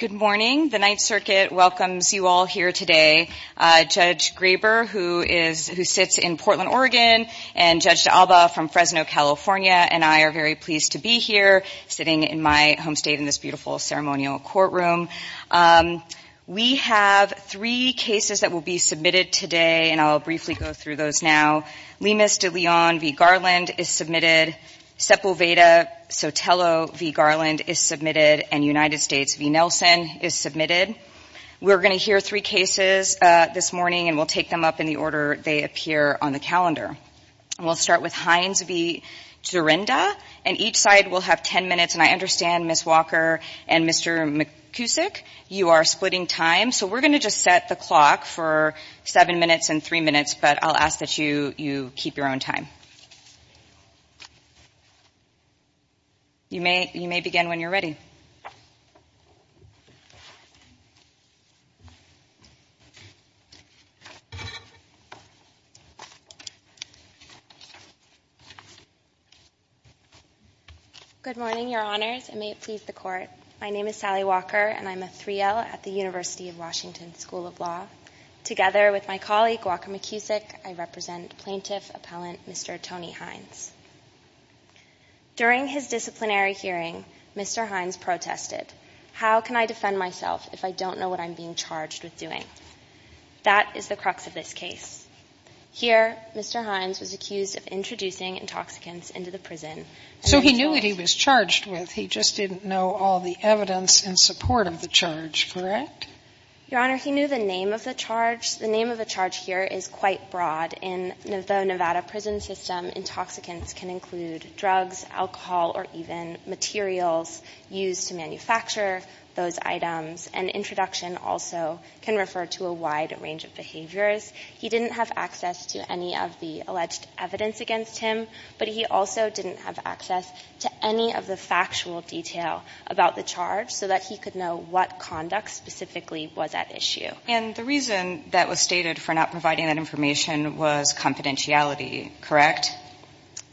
Good morning. The Ninth Circuit welcomes you all here today. Judge Graber, who sits in Portland, Oregon, and Judge D'Alba from Fresno, California, and I are very pleased to be here, sitting in my home state in this beautiful ceremonial courtroom. We have three cases that will be submitted today, and I'll briefly go through those now. Lemus de Leon v. Garland is submitted, Sepulveda Sotelo v. Garland is submitted, and United States v. Nelson is submitted. We're going to hear three cases this morning, and we'll take them up in the order they appear on the calendar. We'll start with Hines v. Dzurenda, and each side will have ten minutes, and I understand Ms. Walker and Mr. McKusick, you are splitting time, so we're going to just set the clock for seven minutes and three minutes, but I'll ask that you keep your own time. You may begin when you're ready. Good morning, Your Honors, and may it please the Court. My name is Sally Walker, and I'm a 3L at the University of Washington School of Law. Together with my colleague, Walker McKusick, I represent Plaintiff Appellant Mr. Tony Hines. During his disciplinary hearing, Mr. Hines protested, how can I defend myself if I don't know what I'm being charged with doing? That is the crux of this case. Here Mr. Hines was accused of introducing intoxicants into the prison. So he knew what he was charged with, he just didn't know all the evidence in support of the charge, correct? Your Honor, he knew the name of the charge. The name of the charge here is quite broad. In the Nevada prison system, intoxicants can include drugs, alcohol, or even materials used to manufacture those items, and introduction also can refer to a wide range of behaviors. He didn't have access to any of the alleged evidence against him, but he also didn't have access to any of the factual detail about the charge so that he could know what conduct specifically was at issue. And the reason that was stated for not providing that information was confidentiality, correct?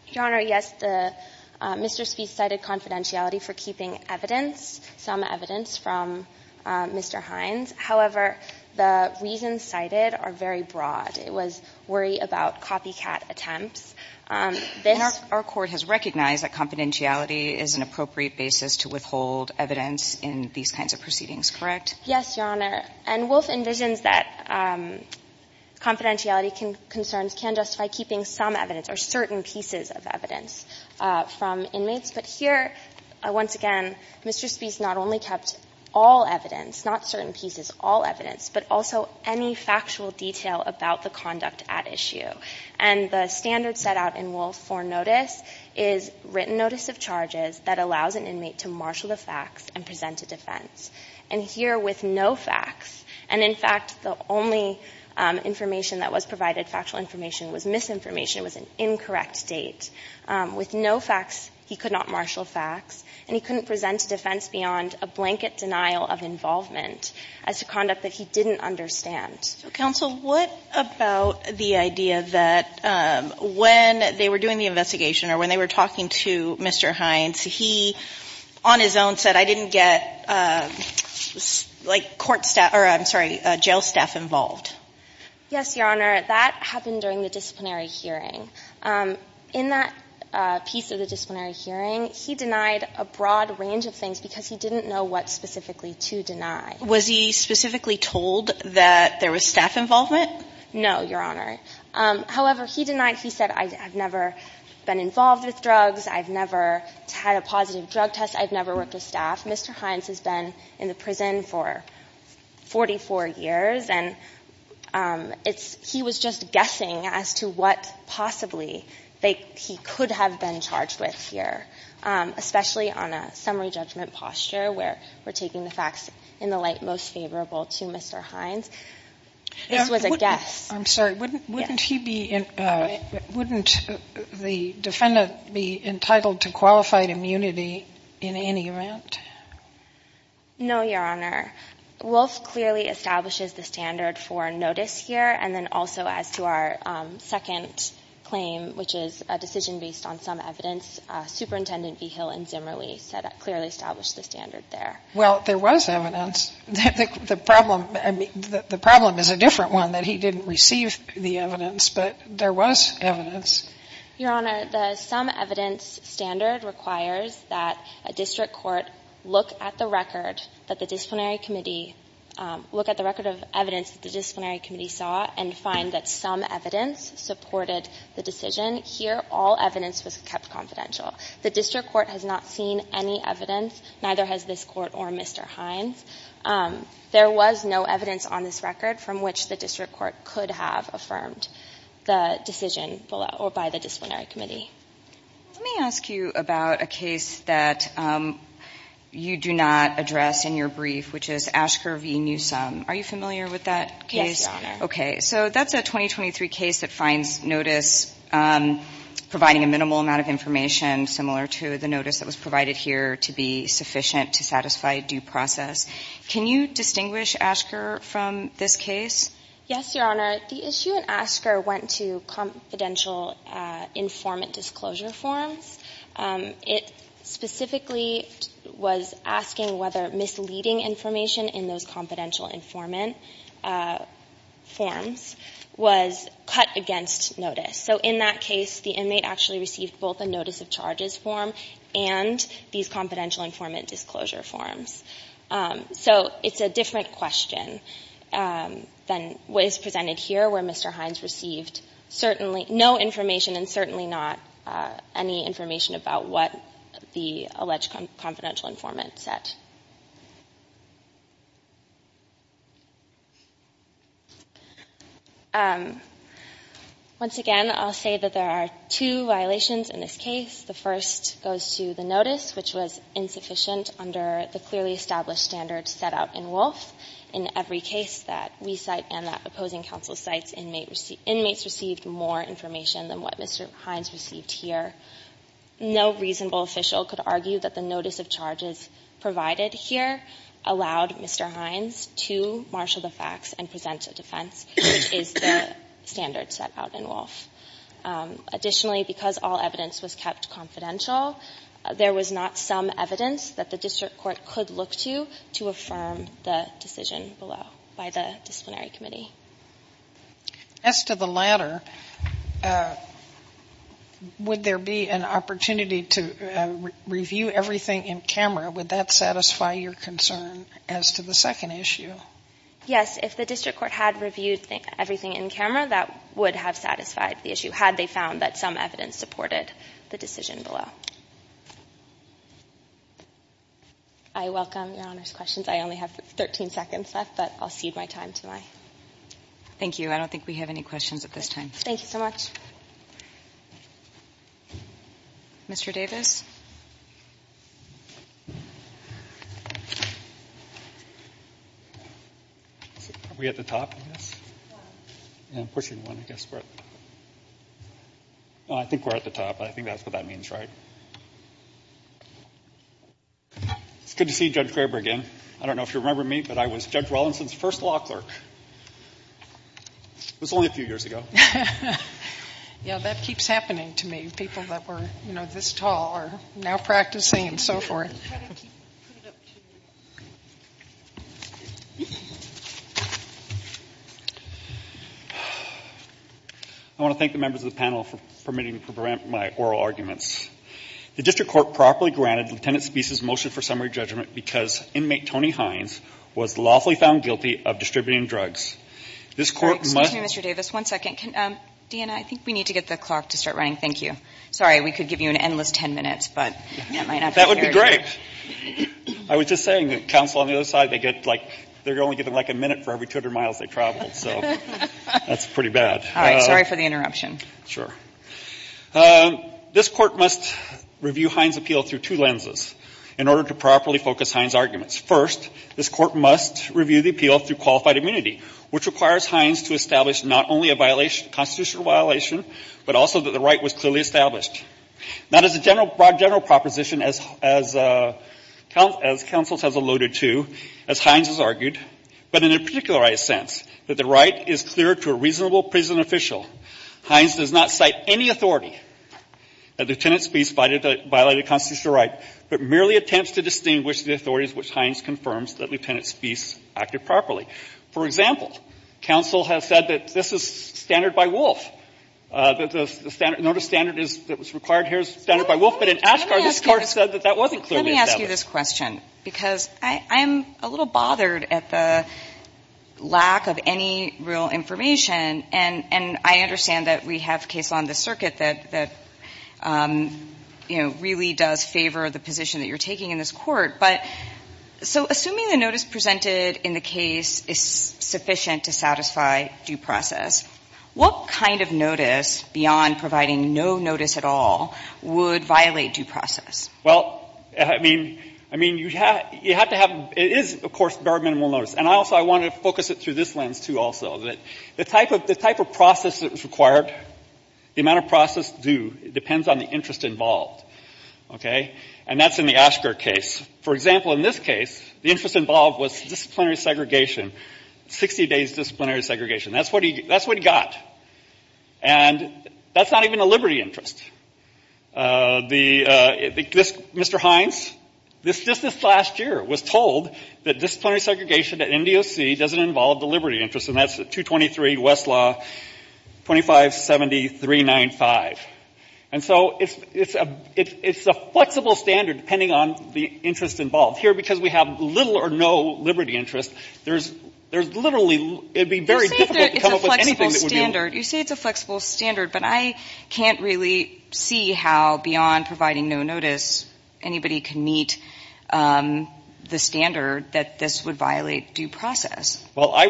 Your Honor, yes, Mr. Spieth cited confidentiality for keeping evidence, some evidence from Mr. Hines. However, the reasons cited are very broad. It was worry about copycat attempts. This Our court has recognized that confidentiality is an appropriate basis to withhold evidence in these kinds of proceedings, correct? Yes, Your Honor. And Wolf envisions that confidentiality concerns can justify keeping some evidence or certain pieces of evidence from inmates. But here, once again, Mr. Spieth not only kept all evidence, not certain pieces, all evidence, but also any factual detail about the conduct at issue. And the standard set out in Wolf for notice is written notice of charges that allows an inmate to marshal the facts and present a defense. And here with no facts, and in fact, the only information that was provided, factual information, was misinformation, was an incorrect date. With no facts, he could not marshal facts, and he couldn't present a defense beyond a blanket denial of involvement as to conduct that he didn't understand. So, counsel, what about the idea that when they were doing the investigation or when they were talking to Mr. Hines, he, on his own, said, I didn't get, like, court staff or, I'm sorry, jail staff involved? Yes, Your Honor. That happened during the disciplinary hearing. In that piece of the disciplinary hearing, he denied a broad range of things because he didn't know what specifically to deny. Was he specifically told that there was staff involvement? No, Your Honor. However, he denied, he said, I've never been involved with drugs. I've never had a positive drug test. I've never worked with staff. Mr. Hines has been in the prison for 44 years, and he was just guessing as to what possibly he could have been charged with here, especially on a summary judgment posture where we're taking the facts in the light most favorable to Mr. Hines. This was a guess. I'm sorry. Wouldn't he be entitled, wouldn't the defendant be entitled to qualified immunity in any event? No, Your Honor. Wolf clearly establishes the standard for notice here, and then also as to our second claim, which is a decision based on some evidence, Superintendent Vigil and Zimmerle clearly established the standard there. Well, there was evidence. The problem is a different one, that he didn't receive the evidence, but there was evidence. Your Honor, the some evidence standard requires that a district court look at the record that the disciplinary committee – look at the record of evidence that the disciplinary committee saw and find that some evidence supported the decision. Here, all evidence was kept confidential. The district court has not seen any evidence, neither has this Court or Mr. Hines. There was no evidence on this record from which the district court could have affirmed the decision below or by the disciplinary committee. Let me ask you about a case that you do not address in your brief, which is Ashker v. Newsom. Are you familiar with that case? Yes, Your Honor. Okay. So, in that case, the inmate actually received both a notice of charge and a notice of disclosure, which is something similar to the notice that was provided here to be sufficient to satisfy due process. Can you distinguish Ashker from this case? Yes, Your Honor. The issue in Ashker went to confidential informant disclosure forms. It specifically was asking whether misleading information in those confidential informant forms was cut against notice. So, in that case, the inmate actually received both a notice of charges form and these confidential informant disclosure forms. So, it's a different question than what is presented here, where Mr. Hines received certainly no information and certainly not any information about what the alleged confidential informant said. Once again, I'll say that there are two violations in this case. The first goes to the notice, which was insufficient under the clearly established standards set out in Wolf. In every case that we cite and that opposing counsel cites, inmates received more information than what Mr. Hines received here. No reasonable official could argue that the notice of charges provided here allowed Mr. Hines to marshal the facts and present a defense, which is the standard set out in Wolf. Additionally, because all evidence was kept confidential, there was not some evidence that the district court could look to to affirm the decision below by the disciplinary committee. As to the latter, would there be an opportunity to review everything in camera? Would that satisfy your concern as to the second issue? Yes. If the district court had reviewed everything in camera, that would have satisfied the issue, had they found that some evidence supported the decision below. I welcome Your Honor's questions. I only have 13 seconds left, but I'll cede my time to my colleagues. Thank you. I don't think we have any questions at this time. Thank you so much. Mr. Davis? Are we at the top, I guess? I'm pushing one, I guess. I think we're at the top. I think that's what that means, right? It's good to see Judge Kramer again. I don't know if you remember me, but I was Judge Wellenson's first law clerk. It was only a few years ago. Yeah, that keeps happening to me. People that were, you know, this tall are now practicing and so forth. I want to thank the members of the panel for permitting me to present my oral arguments. The district court properly granted Lieutenant Speece's motion for summary judgment because inmate Tony Hines was lawfully found guilty of distributing drugs. Excuse me, Mr. Davis. One second. Deanna, I think we need to get the clock to start running. Thank you. Sorry, we could give you an endless ten minutes, but that might not be very good. That would be great. I was just saying that counsel on the other side, they only get like a minute for every 200 miles they travel. So that's pretty bad. All right. Sorry for the interruption. Sure. This court must review Hines' appeal through two lenses in order to properly focus Hines' arguments. First, this court must review the appeal through qualified immunity, which requires Hines to establish not only a constitutional violation, but also that the right was clearly established. Not as a broad general proposition as counsel has alluded to, as Hines has argued, but in a particularized sense, that the right is clear to a reasonable prison official. Hines does not cite any authority that Lieutenant Speece violated a constitutional right, but merely attempts to distinguish the authorities which Hines confirms that Lieutenant Speece acted properly. For example, counsel has said that this is standard by Wolf. The standard that was required here is standard by Wolf. But in Asgard, this court said that that wasn't clearly established. Let me ask you this question, because I'm a little bothered at the lack of any real information. And I understand that we have a case on this circuit that, you know, really does favor the position that you're taking in this court. But so assuming the notice presented in the case is sufficient to satisfy due process, what kind of notice, beyond providing no notice at all, would violate due process? Well, I mean, you have to have – it is, of course, barred minimal notice. And also I want to focus it through this lens, too, also, that the type of process that was required, the amount of process due depends on the interest involved. Okay? And that's in the Asgard case. For example, in this case, the interest involved was disciplinary segregation, 60 days disciplinary segregation. That's what he got. And that's not even a liberty interest. The – Mr. Hines, just this last year was told that disciplinary segregation at NDOC doesn't involve the liberty interest. And that's 223 Westlaw 2570-395. And so it's a flexible standard, depending on the interest involved. Here, because we have little or no liberty interest, there's literally – it would You say it's a flexible standard, but I can't really see how, beyond providing no notice, anybody can meet the standard that this would violate due process. Well, I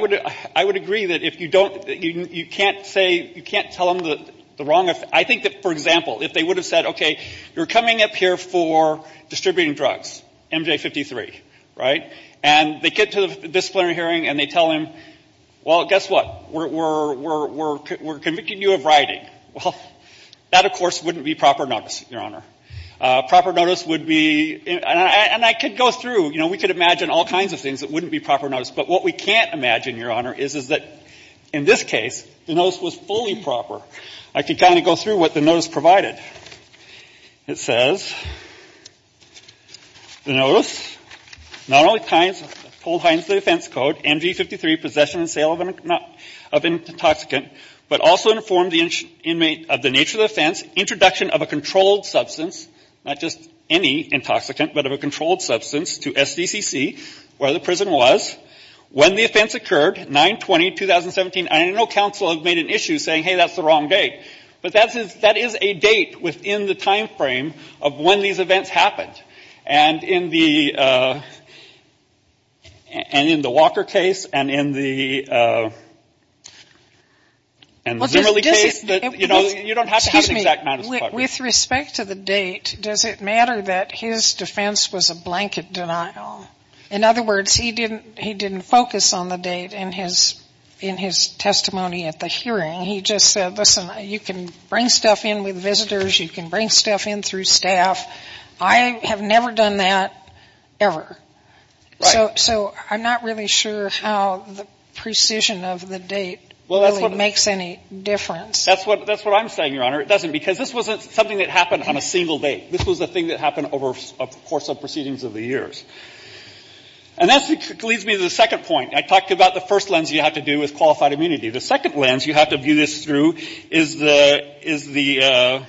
would agree that if you don't – you can't say – you can't tell them the wrong – I think that, for example, if they would have said, okay, you're coming up here for distributing drugs, MJ-53, right? And they get to the disciplinary hearing and they tell him, well, guess what? We're convicting you of writing. Well, that, of course, wouldn't be proper notice, Your Honor. Proper notice would be – and I could go through, you know, we could imagine all kinds of things that wouldn't be proper notice. But what we can't imagine, Your Honor, is that in this case, the notice was fully proper. I could kind of go through what the notice provided. It says, the notice not only pines – told Hines the defense code, MJ-53, possession and sale of intoxicant, but also informed the inmate of the nature of the offense, introduction of a controlled substance – not just any intoxicant, but of a controlled substance – to SDCC, where the prison was, when the offense occurred, 9-20-2017. I know counsel have made an issue saying, hey, that's the wrong date. But that is a date within the timeframe of when these events happened. And in the Walker case and in the Zimmerle case, you don't have to have an exact – With respect to the date, does it matter that his defense was a blanket denial? In other words, he didn't focus on the date in his testimony at the hearing. He just said, listen, you can bring stuff in with visitors. You can bring stuff in through staff. I have never done that ever. So I'm not really sure how the precision of the date really makes any difference. That's what I'm saying, Your Honor. It doesn't, because this wasn't something that happened on a single date. This was a thing that happened over a course of proceedings of the years. And that leads me to the second point. I talked about the first lens you have to do with qualified immunity. The second lens you have to view this through is the – is the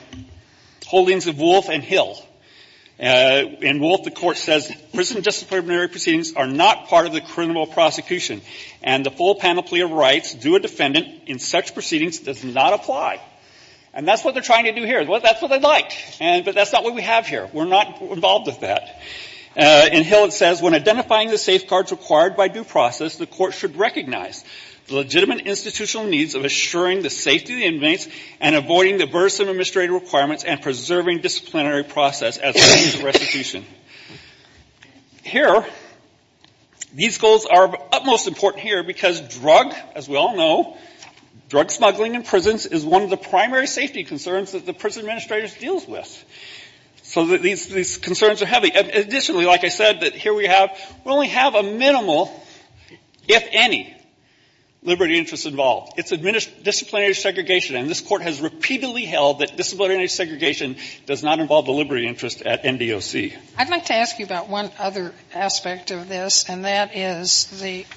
holdings of Wolfe and Hill. In Wolfe, the Court says prison disciplinary proceedings are not part of the criminal prosecution, and the full panoply of rights due a defendant in such proceedings does not apply. And that's what they're trying to do here. That's what they like. But that's not what we have here. We're not involved with that. In Hill, it says, when identifying the safeguards required by due process, the Court should recognize the legitimate institutional needs of assuring the safety of the inmates and avoiding the burdensome administrative requirements and preserving disciplinary process as a means of restitution. Here, these goals are utmost important here because drug, as we all know, drug smuggling in prisons is one of the primary safety concerns that the prison administrator deals with. So these concerns are heavy. Additionally, like I said, here we have – we only have a minimal, if any, liberty interest involved. It's disciplinary segregation. And this Court has repeatedly held that disciplinary segregation does not involve the liberty interest at MDOC. I'd like to ask you about one other aspect of this, and that is the –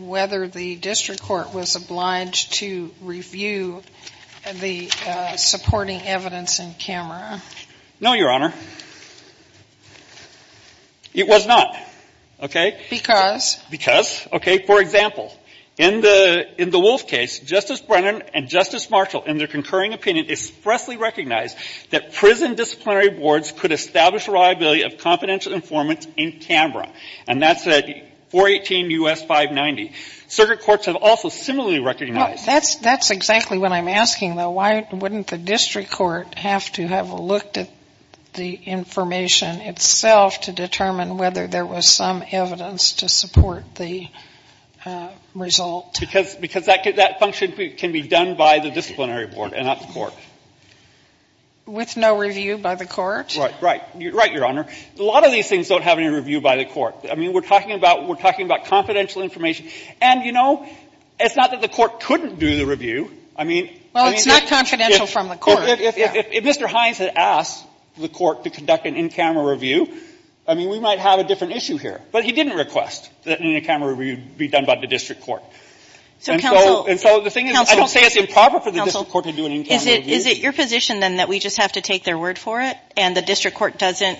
whether the district court was obliged to review the supporting evidence in camera. No, Your Honor. It was not. Okay? Because? Because. Okay. For example, in the – in the Wolf case, Justice Brennan and Justice Marshall in their concurring opinion expressly recognized that prison disciplinary boards could establish a liability of confidential informants in camera. And that's at 418 U.S. 590. Circuit courts have also similarly recognized. Well, that's – that's exactly what I'm asking, though. Why wouldn't the district court have to have looked at the information itself to determine whether there was some evidence to support the result? Because that function can be done by the disciplinary board and not the court. With no review by the court? Right. Right. Right, Your Honor. A lot of these things don't have any review by the court. I mean, we're talking about – we're talking about confidential information. And, you know, it's not that the court couldn't do the review. I mean – Well, it's not confidential from the court. If Mr. Hines had asked the court to conduct an in-camera review, I mean, we might have a different issue here. But he didn't request that an in-camera review be done by the district court. So, counsel – And so the thing is – Counsel – I don't say it's improper for the district court to do an in-camera review. Is it your position, then, that we just have to take their word for it and the district court doesn't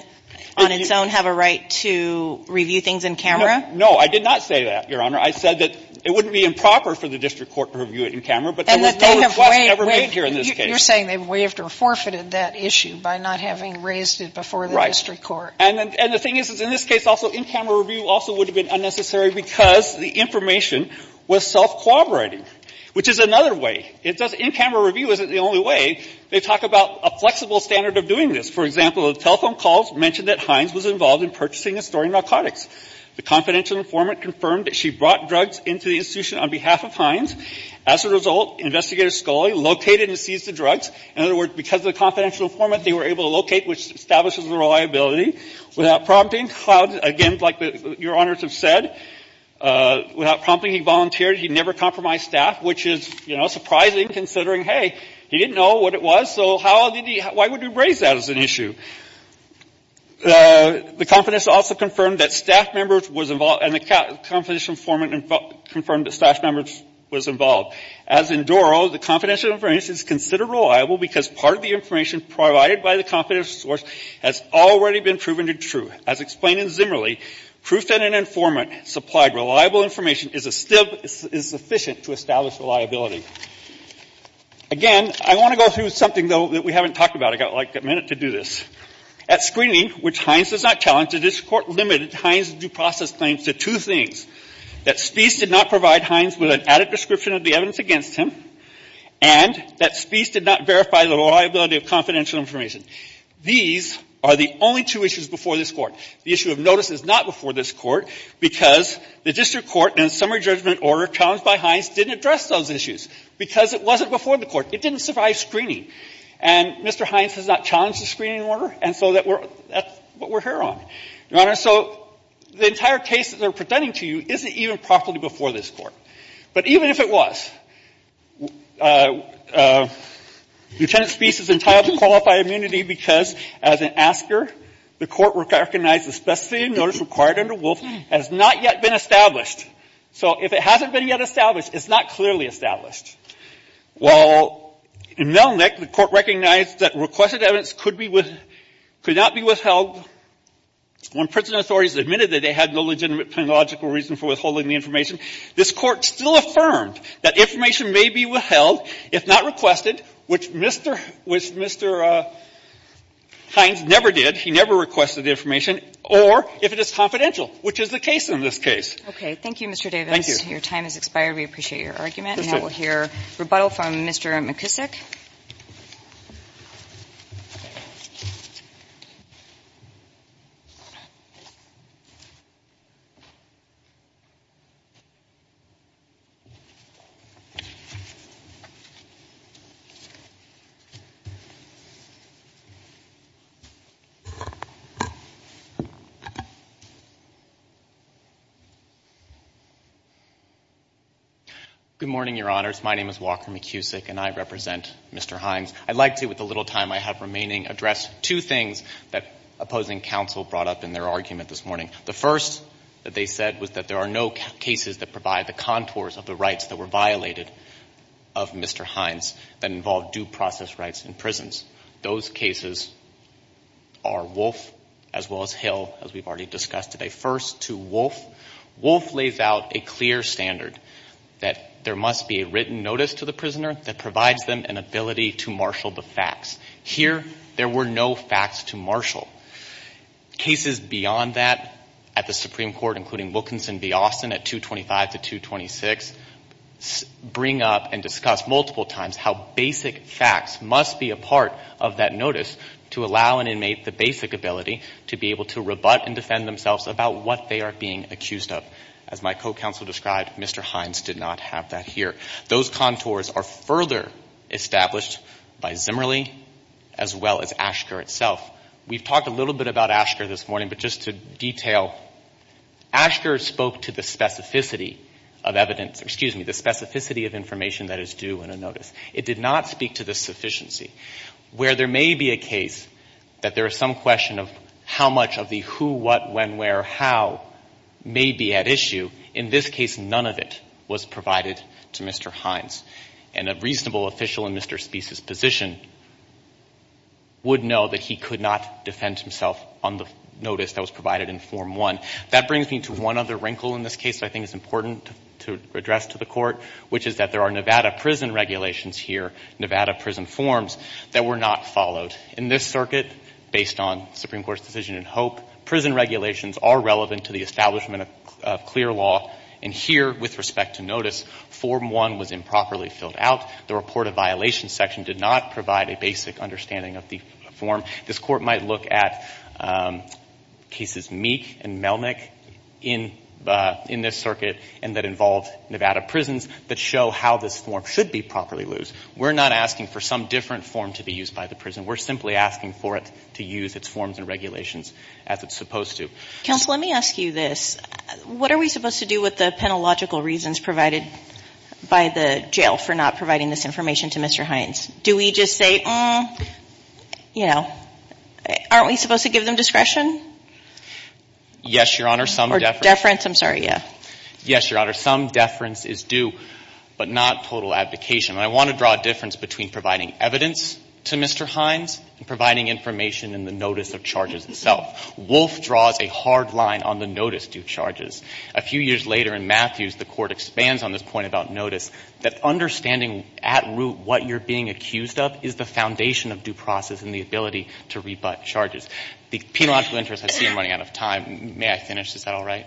on its own have a right to review things in camera? No. I did not say that, Your Honor. I said that it wouldn't be improper for the district court to review it in camera, but there was no request ever made here in this case. You're saying they waived or forfeited that issue by not having raised it before the district court. Right. And the thing is, in this case also, in-camera review also would have been unnecessary because the information was self-cooperating, which is another way. In-camera review isn't the only way. They talk about a flexible standard of doing this. For example, the telephone calls mentioned that Hines was involved in purchasing and storing narcotics. The confidential informant confirmed that she brought drugs into the institution on behalf of Hines. As a result, Investigator Scully located and seized the drugs. In other words, because of the confidential informant, they were able to locate, which establishes the reliability. Without prompting, again, like Your Honors have said, without prompting, he volunteered. He never compromised staff, which is, you know, surprising considering, hey, he didn't know what it was, so how did he – why would he raise that as an issue? The confidential informant confirmed that staff members was involved – and the confidential informant confirmed that staff members was involved. As in Doro, the confidential informant is considered reliable because part of the information provided by the confidential source has already been proven to be true. As explained in Zimmerle, proof that an informant supplied reliable information is sufficient to establish reliability. Again, I want to go through something, though, that we haven't talked about. I've got, like, a minute to do this. At screening, which Hines does not challenge, the district court limited Hines' due process claims to two things, that Speece did not provide Hines with an added description of the evidence against him, and that Speece did not verify the reliability of confidential information. These are the only two issues before this Court. The issue of notice is not before this Court because the district court and summary judgment order challenged by Hines didn't address those issues because it wasn't before the Court. It didn't survive screening. And Mr. Hines has not challenged the screening order, and so that we're – that's what we're here on. Your Honor, so the entire case that they're presenting to you isn't even properly before this Court. But even if it was, Lieutenant Speece is entitled to qualified immunity because as an asker, the Court recognized the specificity of notice required under Wolf has not yet been established. So if it hasn't been yet established, it's not clearly established. While in Melnick, the Court recognized that requested evidence could be with – could not be withheld when prison authorities admitted that they had no legitimate logical reason for withholding the information, this Court still affirmed that information may be withheld if not requested, which Mr. – which Mr. Hines never did. He never requested the information. Or if it is confidential, which is the case in this case. Okay. Thank you, Mr. Davis. Thank you. Your time has expired. We appreciate your argument. And now we'll hear rebuttal from Mr. McKissack. Good morning, Your Honors. My name is Walker McKissack, and I represent Mr. Hines. I'd like to, with the little time I have remaining, address two things that opposing counsel brought up in their argument this morning. The first that they said was that there are no cases that provide the contours of the rights that were violated of Mr. Hines that involved due process rights in prisons. Those cases are Wolf as well as Hill, as we've already discussed today. Wolf lays out a clear standard that there must be a written notice to the prisoner that provides them an ability to marshal the facts. Here, there were no facts to marshal. Cases beyond that at the Supreme Court, including Wilkinson v. Austin at 225 to 226, bring up and discuss multiple times how basic facts must be a part of that notice to allow an inmate the basic ability to be able to rebut and defend themselves about what they are being accused of. As my co-counsel described, Mr. Hines did not have that here. Those contours are further established by Zimmerle as well as Ashker itself. We've talked a little bit about Ashker this morning, but just to detail, Ashker spoke to the specificity of evidence, excuse me, the specificity of information that is due in a notice. It did not speak to the sufficiency. Where there may be a case that there is some question of how much of the who, what, when, where, how may be at issue, in this case, none of it was provided to Mr. Hines. And a reasonable official in Mr. Speece's position would know that he could not defend himself on the notice that was provided in Form 1. That brings me to one other wrinkle in this case that I think is important to address to the court, which is that there are Nevada prison regulations here, Nevada prison forms, that were not followed. In this circuit, based on Supreme Court's decision in Hope, prison regulations are relevant to the establishment of clear law. And here, with respect to notice, Form 1 was improperly filled out. The report of violations section did not provide a basic understanding of the form. This Court might look at cases Meek and Melnick in this circuit, and that involved Nevada prisons, that show how this form should be properly used. We're not asking for some different form to be used by the prison. We're simply asking for it to use its forms and regulations as it's supposed to. Counsel, let me ask you this. What are we supposed to do with the penalogical reasons provided by the jail for not providing this information to Mr. Hines? Do we just say, you know, aren't we supposed to give them discretion? Yes, Your Honor, some deference. Deference, I'm sorry, yeah. Yes, Your Honor. Some deference is due, but not total abdication. And I want to draw a difference between providing evidence to Mr. Hines and providing information in the notice of charges itself. Wolf draws a hard line on the notice due charges. A few years later, in Matthews, the Court expands on this point about notice, that understanding at root what you're being accused of is the foundation of due process and the ability to rebut charges. The penological interest, I see I'm running out of time. May I finish? Is that all right?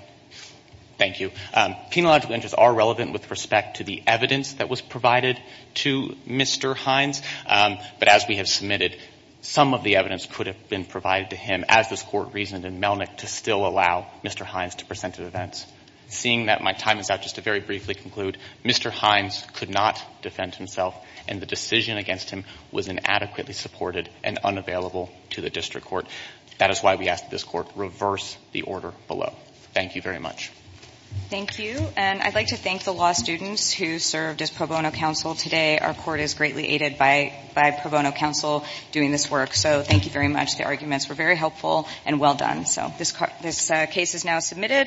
Thank you. Penological interests are relevant with respect to the evidence that was provided to Mr. Hines. But as we have submitted, some of the evidence could have been provided to him, as this Court reasoned in Melnick, to still allow Mr. Hines to present at events. Seeing that my time is up, just to very briefly conclude, Mr. Hines could not defend himself, and the decision against him was inadequately supported and unavailable to the District Court. That is why we ask that this Court reverse the order below. Thank you very much. Thank you. And I'd like to thank the law students who served as pro bono counsel today. Our Court is greatly aided by pro bono counsel doing this work. So thank you very much. The arguments were very helpful and well done. So this case is now submitted.